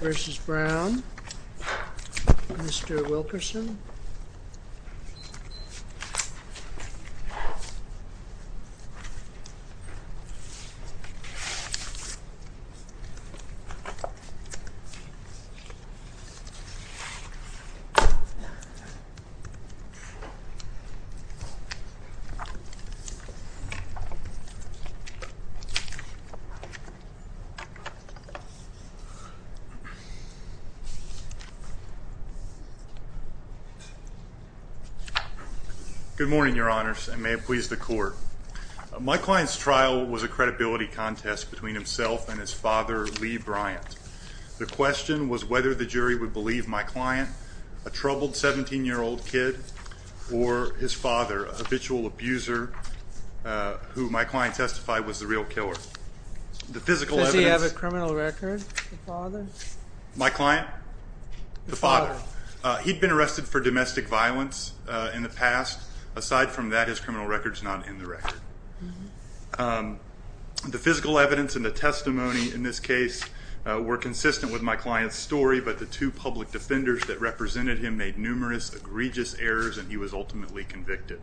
v. Brown, Mr. Wilkerson Good morning, your honors, and may it please the court. My client's trial was a credibility contest between himself and his father, Lee Bryant. The question was whether the jury would believe my client, a troubled 17-year-old kid, or his father, a habitual abuser, who my client testified was the real killer. Does he have a criminal record, the father? My client? The father. He'd been arrested for domestic violence in the past. Aside from that, his criminal record's not in the record. The physical evidence and the testimony in this case were consistent with my client's story, but the two public defenders that represented him made numerous egregious errors, and he was ultimately convicted.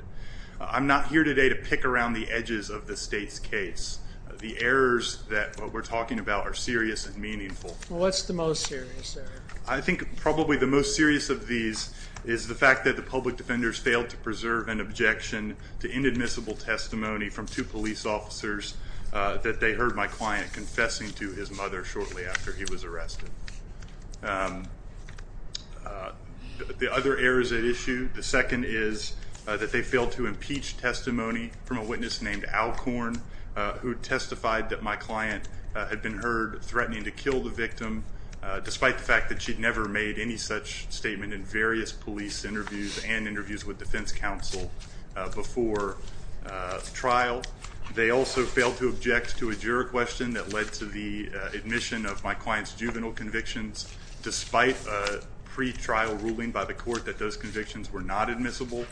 I'm not here today to pick around the edges of the state's case. The errors that we're talking about are serious and meaningful. What's the most serious error? I think probably the most serious of these is the fact that the public defenders failed to preserve an objection to inadmissible testimony from two police officers that they heard my client confessing to his mother shortly after he was arrested. The other errors at issue, the second is that they failed to impeach testimony from a witness named Alcorn, who testified that my client had been heard threatening to kill the victim, despite the fact that she'd never made any such statement in various police interviews and interviews with defense counsel before trial. They also failed to object to a juror question that led to the admission of my client's juvenile convictions, despite a pretrial ruling by the court that those convictions were not admissible.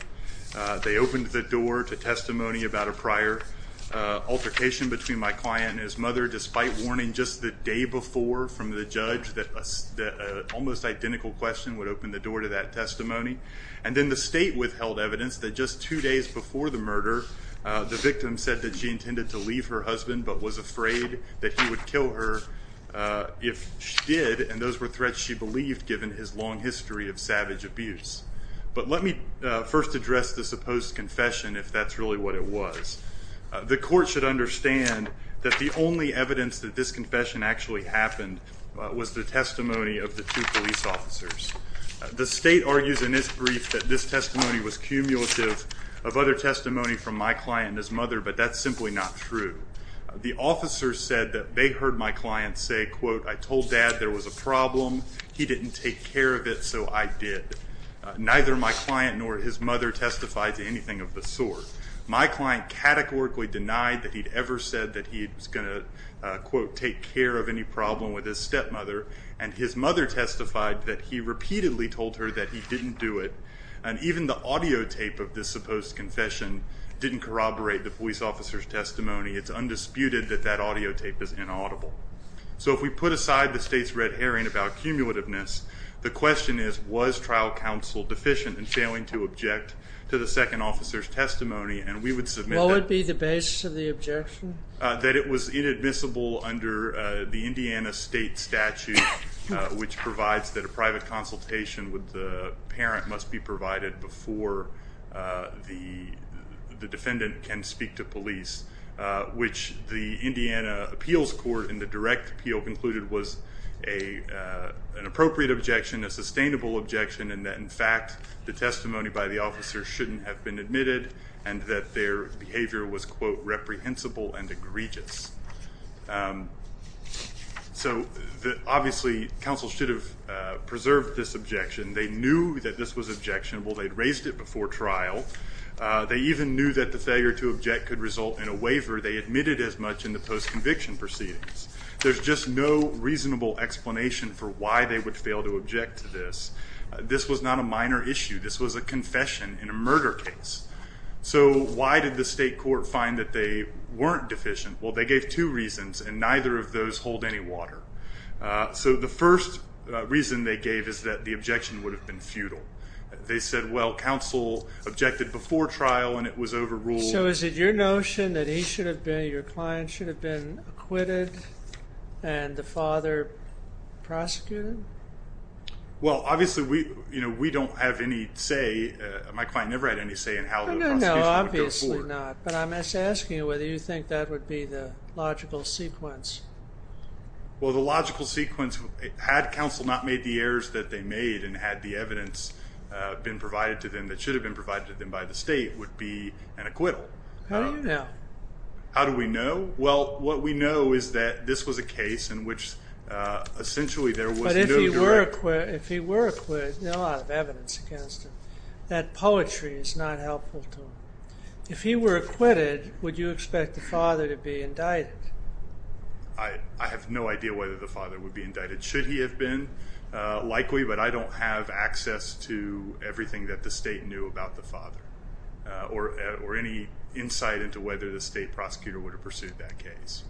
They opened the door to testimony about a prior altercation between my client and his mother, despite warning just the day before from the judge that an almost identical question would open the door to that testimony. And then the state withheld evidence that just two days before the murder, the victim said that she intended to leave her husband but was afraid that he would kill her if she did, and those were threats she believed given his long history of savage abuse. But let me first address this supposed confession, if that's really what it was. The court should understand that the only evidence that this confession actually happened was the testimony of the two police officers. The state argues in this brief that this testimony was cumulative of other testimony from my client and his mother, but that's simply not true. The officers said that they heard my client say, quote, I told dad there was a problem, he didn't take care of it, so I did. Neither my client nor his mother testified to anything of the sort. My client categorically denied that he'd ever said that he was going to, quote, take care of any problem with his stepmother, and his mother testified that he repeatedly told her that he didn't do it, and even the audio tape of this supposed confession didn't corroborate the police officer's testimony. It's undisputed that that audio tape is inaudible. So if we put aside the state's red herring about cumulativeness, the question is, was trial counsel deficient in failing to object to the second officer's testimony, and we would submit that- What would be the basis of the objection? That it was inadmissible under the Indiana state statute, which provides that a private consultation with the parent must be provided before the defendant can speak to police, which the Indiana appeals court in the direct appeal concluded was an appropriate objection, a sustainable objection, and that, in fact, the testimony by the officer shouldn't have been admitted, and that their behavior was, quote, reprehensible and egregious. So obviously, counsel should have preserved this objection. They knew that this was objectionable. They'd raised it before trial. They even knew that the failure to object could result in a waiver. They admitted as much in the post-conviction proceedings. There's just no reasonable explanation for why they would fail to object to this. This was not a minor issue. This was a confession in a murder case. So why did the state court find that they weren't deficient? Well, they gave two reasons, and neither of those hold any water. So the first reason they gave is that the objection would have been futile. They said, well, counsel objected before trial, and it was overruled. So is it your notion that he should have been, your client should have been acquitted, and the father prosecuted? Well, obviously, we don't have any say. My client never had any say in how the prosecution would go forward. No, no, no, obviously not. But I'm asking you whether you think that would be the logical sequence. Well, the logical sequence, had counsel not made the errors that they made and had the evidence been provided to them that should have been provided to them by the state, would be an acquittal. How do you know? How do we know? Well, what we know is that this was a case in which essentially there was no direct. But if he were acquitted, there's not a lot of evidence against him. That poetry is not helpful to him. If he were acquitted, would you expect the father to be indicted? I have no idea whether the father would be indicted. Should he have been? Likely, but I don't have access to everything that the state knew about the father or any insight into whether the state prosecutor would have pursued that case.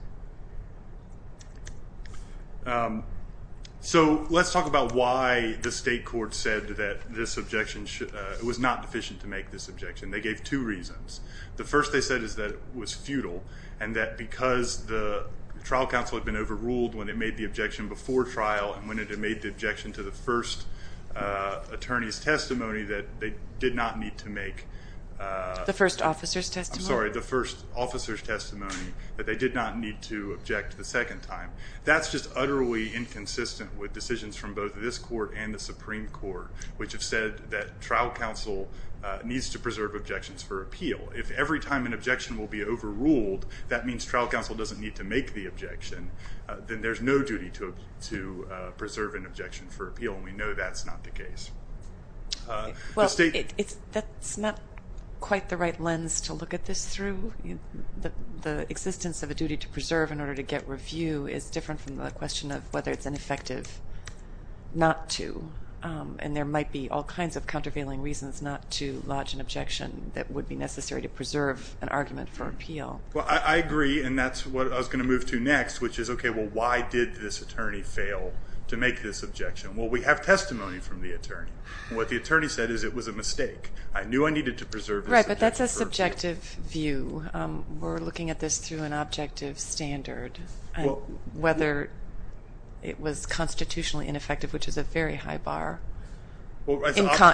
So let's talk about why the state court said that this objection was not deficient to make this objection. They gave two reasons. The first they said is that it was futile and that because the trial counsel had been overruled when it made the objection before trial and when it had made the objection to the first attorney's testimony that they did not need to make. The first officer's testimony. I'm sorry, the first officer's testimony that they did not need to object the second time. That's just utterly inconsistent with decisions from both this court and the Supreme Court, which have said that trial counsel needs to preserve objections for appeal. If every time an objection will be overruled, that means trial counsel doesn't need to make the objection. Then there's no duty to preserve an objection for appeal, and we know that's not the case. Well, that's not quite the right lens to look at this through. The existence of a duty to preserve in order to get review is different from the question of whether it's ineffective not to, and there might be all kinds of countervailing reasons not to lodge an objection that would be necessary to preserve an argument for appeal. Well, I agree, and that's what I was going to move to next, which is, okay, well, why did this attorney fail to make this objection? Well, we have testimony from the attorney. What the attorney said is it was a mistake. I knew I needed to preserve this objection for appeal. Right, but that's a subjective view. We're looking at this through an objective standard, whether it was constitutionally ineffective, which is a very high bar,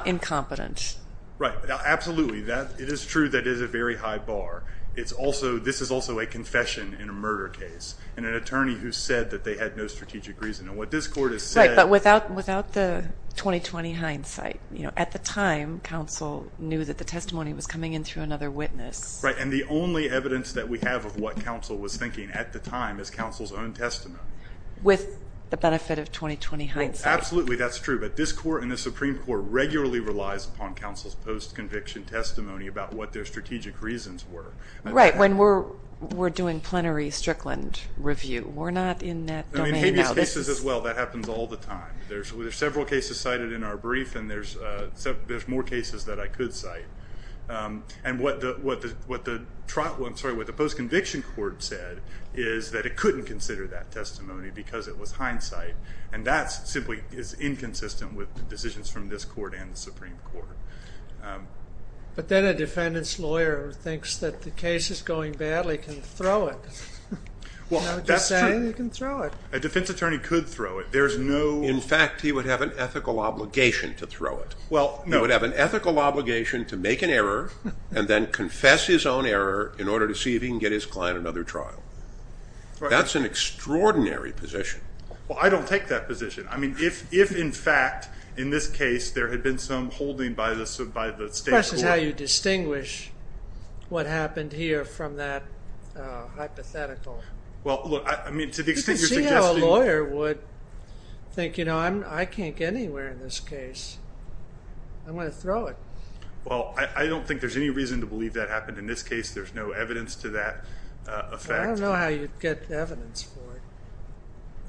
incompetent. Right, absolutely. It is true that it is a very high bar. This is also a confession in a murder case, and an attorney who said that they had no strategic reason. And what this court has said. Right, but without the 20-20 hindsight. At the time, counsel knew that the testimony was coming in through another witness. Right, and the only evidence that we have of what counsel was thinking at the time is counsel's own testimony. With the benefit of 20-20 hindsight. Absolutely, that's true. But this court and the Supreme Court regularly relies upon counsel's post-conviction testimony about what their strategic reasons were. Right, when we're doing plenary Strickland review. We're not in that domain now. In habeas cases as well, that happens all the time. There's several cases cited in our brief, and there's more cases that I could cite. And what the post-conviction court said is that it couldn't consider that testimony because it was hindsight. And that simply is inconsistent with decisions from this court and the Supreme Court. But then a defendant's lawyer thinks that the case is going badly can throw it. Well, that's true. You know, just say that you can throw it. A defense attorney could throw it. There's no. In fact, he would have an ethical obligation to throw it. Well, no. He would have an ethical obligation to make an error, and then confess his own error in order to see if he can get his client another trial. Right. That's an extraordinary position. Well, I don't take that position. I mean, if, in fact, in this case, there had been some holding by the state court. The question is how you distinguish what happened here from that hypothetical. Well, look, I mean, to the extent you're suggesting. You can see how a lawyer would think, you know, I can't get anywhere in this case. I'm going to throw it. Well, I don't think there's any reason to believe that happened in this case. There's no evidence to that effect. I don't know how you'd get evidence for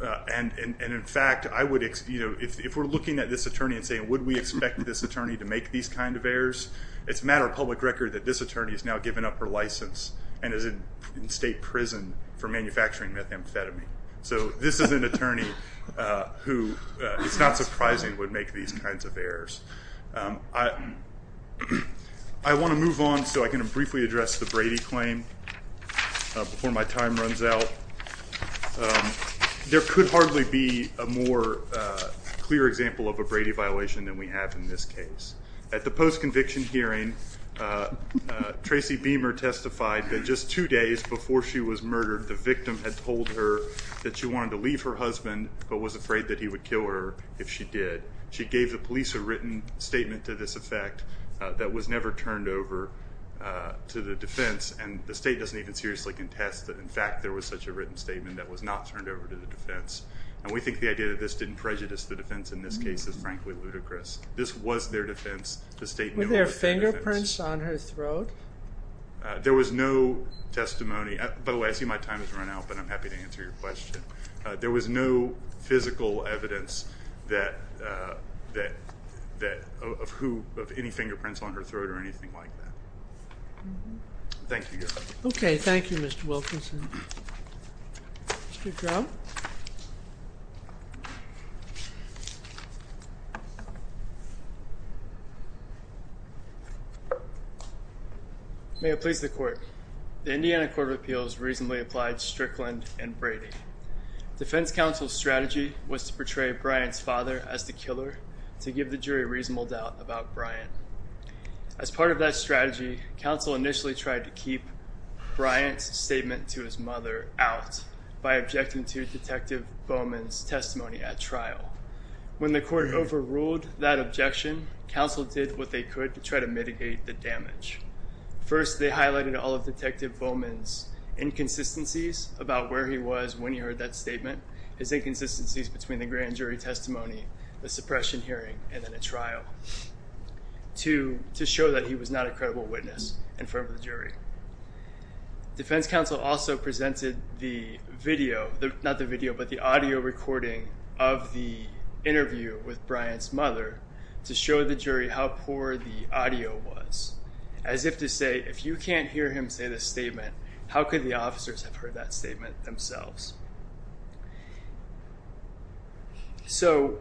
it. And, in fact, I would, you know, if we're looking at this attorney and saying would we expect this attorney to make these kind of errors, it's a matter of public record that this attorney has now given up her license and is in state prison for manufacturing methamphetamine. So this is an attorney who, it's not surprising, would make these kinds of errors. I want to move on so I can briefly address the Brady claim before my time runs out. There could hardly be a more clear example of a Brady violation than we have in this case. At the post-conviction hearing, Tracy Beamer testified that just two days before she was murdered, the victim had told her that she wanted to leave her husband but was afraid that he would kill her if she did. She gave the police a written statement to this effect that was never turned over to the defense, and the state doesn't even seriously contest that, in fact, there was such a written statement that was not turned over to the defense. And we think the idea that this didn't prejudice the defense in this case is frankly ludicrous. This was their defense. The state knew it was their defense. Were there fingerprints on her throat? There was no testimony. By the way, I see my time has run out, but I'm happy to answer your question. There was no physical evidence of any fingerprints on her throat or anything like that. Thank you, Your Honor. Okay, thank you, Mr. Wilkinson. Mr. Crow? May it please the Court. The Indiana Court of Appeals reasonably applied Strickland and Brady. Defense counsel's strategy was to portray Bryant's father as the killer to give the jury reasonable doubt about Bryant. As part of that strategy, counsel initially tried to keep Bryant's statement to his mother out by objecting to Detective Bowman's testimony at trial. When the court overruled that objection, counsel did what they could to try to mitigate the damage. First, they highlighted all of Detective Bowman's inconsistencies about where he was when he heard that statement, his inconsistencies between the grand jury testimony, the suppression hearing, and then at trial to show that he was not a credible witness in front of the jury. Defense counsel also presented the video, not the video, but the audio recording of the interview with Bryant's mother to show the jury how poor the audio was, as if to say, if you can't hear him say the statement, how could the officers have heard that statement themselves? So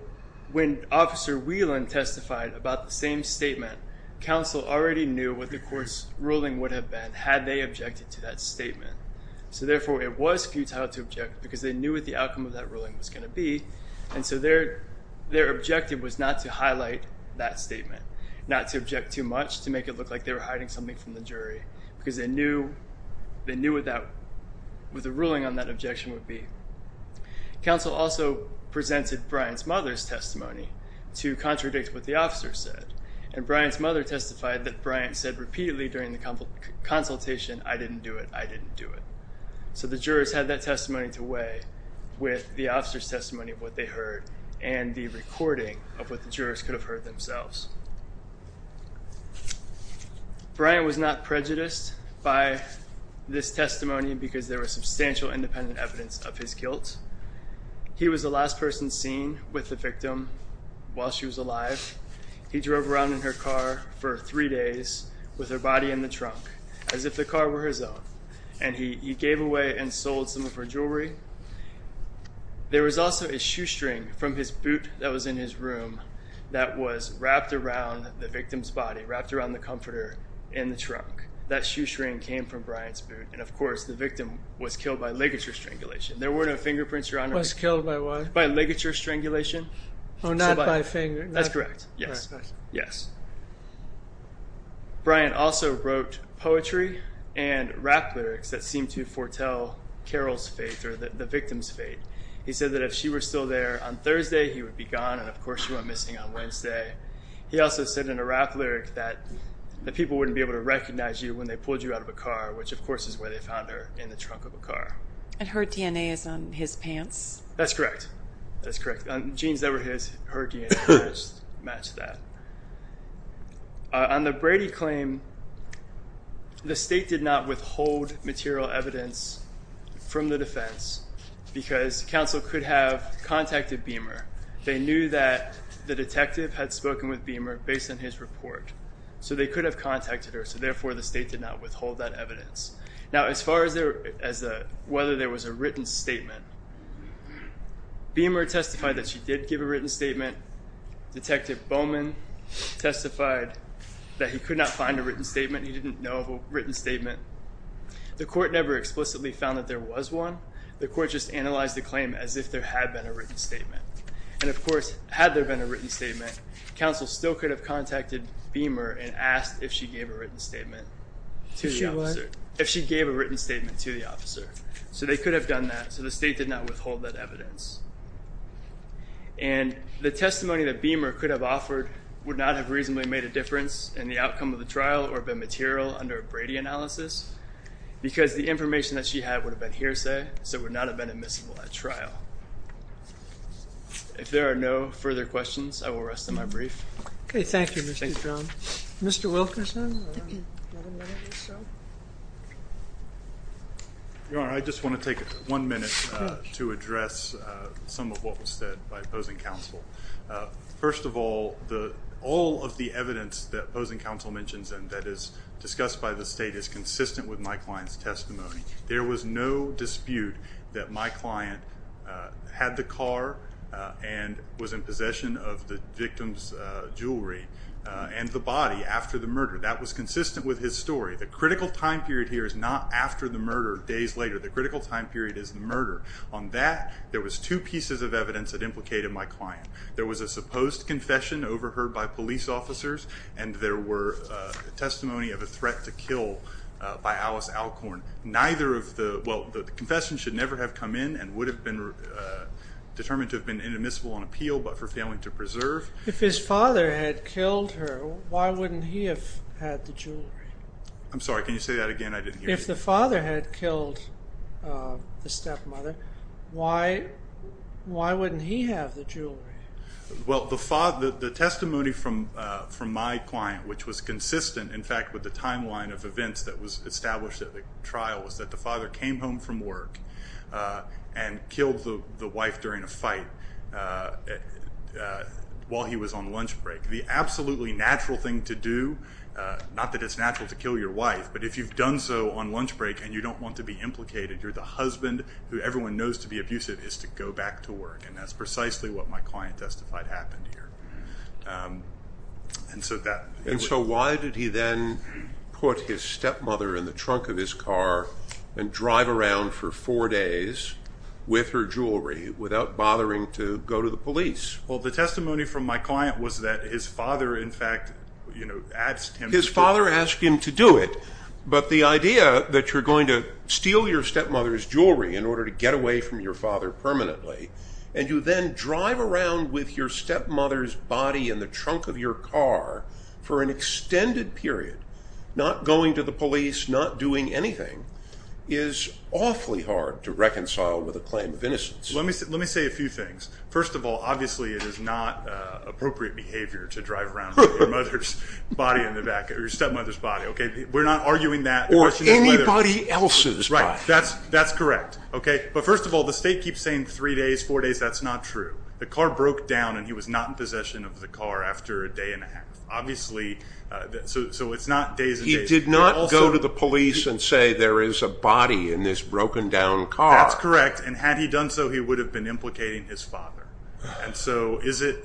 when Officer Whelan testified about the same statement, counsel already knew what the court's ruling would have been had they objected to that statement. So therefore, it was futile to object because they knew what the outcome of that ruling was going to be, and so their objective was not to highlight that statement, not to object too much to make it look like they were hiding something from the jury, because they knew what the ruling on that objection would be. Counsel also presented Bryant's mother's testimony to contradict what the officers said, and Bryant's mother testified that Bryant said repeatedly during the consultation, I didn't do it, I didn't do it. So the jurors had that testimony to weigh with the officers' testimony of what they heard and the recording of what the jurors could have heard themselves. Bryant was not prejudiced by this testimony because there was substantial independent evidence of his guilt. He was the last person seen with the victim while she was alive. He drove around in her car for three days with her body in the trunk, as if the car were his own, and he gave away and sold some of her jewelry. There was also a shoestring from his boot that was in his room that was wrapped around the victim's body, wrapped around the comforter in the trunk. That shoestring came from Bryant's boot, and of course, the victim was killed by ligature strangulation. There were no fingerprints, Your Honor. Was killed by what? By ligature strangulation. Oh, not by finger. That's correct. Yes. Bryant also wrote poetry and rap lyrics that seemed to foretell Carol's fate or the victim's fate. He said that if she were still there on Thursday, he would be gone, and of course, she went missing on Wednesday. He also said in a rap lyric that the people wouldn't be able to recognize you when they pulled you out of a car, which of course is where they found her, in the trunk of a car. And her DNA is on his pants? That's correct. That's correct. Jeans that were his, her DNA matched that. On the Brady claim, the state did not withhold material evidence from the defense because counsel could have contacted Beamer. They knew that the detective had spoken with Beamer based on his report, so they could have contacted her, so therefore the state did not withhold that evidence. Now, as far as whether there was a written statement, Beamer testified that she did give a written statement. Detective Bowman testified that he could not find a written statement. He didn't know of a written statement. The court never explicitly found that there was one. The court just analyzed the claim as if there had been a written statement. And of course, had there been a written statement, counsel still could have contacted Beamer and asked if she gave a written statement to the officer. If she gave a written statement to the officer. So they could have done that, so the state did not withhold that evidence. And the testimony that Beamer could have offered would not have reasonably made a difference in the outcome of the trial or been material under a Brady analysis, because the information that she had would have been hearsay, so it would not have been admissible at trial. If there are no further questions, I will rest on my brief. Okay, thank you, Mr. Drum. Mr. Wilkerson. I just want to take one minute to address some of what was said by opposing counsel. First of all, all of the evidence that opposing counsel mentions and that is discussed by the state is consistent with my client's testimony. There was no dispute that my client had the car and was in possession of the victim's jewelry and the body after the murder. That was consistent with his story. The critical time period here is not after the murder, days later. The critical time period is the murder. On that, there was two pieces of evidence that implicated my client. There was a supposed confession overheard by police officers and there were testimony of a threat to kill by Alice Alcorn. Neither of the, well, the confession should never have come in and would have been determined to have been inadmissible on appeal, but for failing to preserve. If his father had killed her, why wouldn't he have had the jewelry? I'm sorry, can you say that again? I didn't hear you. If the father had killed the stepmother, why wouldn't he have the jewelry? Well, the testimony from my client, which was consistent, in fact, with the timeline of events that was established at the trial, was that the father came home from work and killed the wife during a fight while he was on lunch break. The absolutely natural thing to do, not that it's natural to kill your wife, but if you've done so on lunch break and you don't want to be implicated, you're the husband who everyone knows to be abusive is to go back to work. That's precisely what my client testified happened here. Why did he then put his stepmother in the trunk of his car and drive around for four days with her jewelry without bothering to go to the police? Well, the testimony from my client was that his father, in fact, asked him to do it. His father asked him to do it, but the idea that you're going to steal your stepmother's jewelry in order to get away from your father permanently, and you then drive around with your stepmother's body in the trunk of your car for an extended period, not going to the police, not doing anything, is awfully hard to reconcile with a claim of innocence. Let me say a few things. First of all, obviously, it is not appropriate behavior to drive around with your stepmother's body. We're not arguing that. Or anybody else's body. That's correct. But first of all, the state keeps saying three days, four days. That's not true. The car broke down, and he was not in possession of the car after a day and a half. Obviously, so it's not days and days. He did not go to the police and say there is a body in this broken-down car. That's correct. And had he done so, he would have been implicating his father. And so is it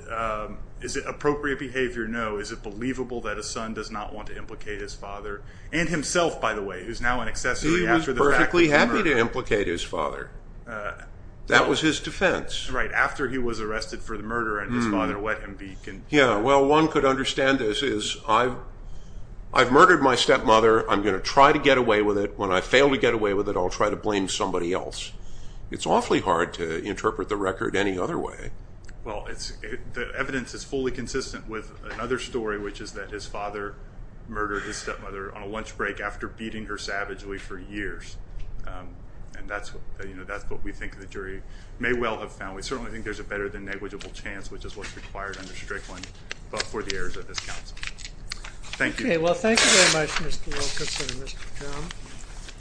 appropriate behavior? No. Is it believable that a son does not want to implicate his father? And himself, by the way, who is now an accessory after the fact. He was perfectly happy to implicate his father. That was his defense. Right. After he was arrested for the murder and his father let him be convicted. Yeah. Well, one could understand this as I've murdered my stepmother. I'm going to try to get away with it. When I fail to get away with it, I'll try to blame somebody else. It's awfully hard to interpret the record any other way. Well, the evidence is fully consistent with another story, which is that his father murdered his stepmother on a lunch break after beating her savagely for years. And that's what we think the jury may well have found. We certainly think there's a better-than-negligible chance, which is what's required under Strickland, but for the errors of this counsel. Thank you. Okay. Well, thank you very much, Mr. Wilkerson and Mr. Drumm.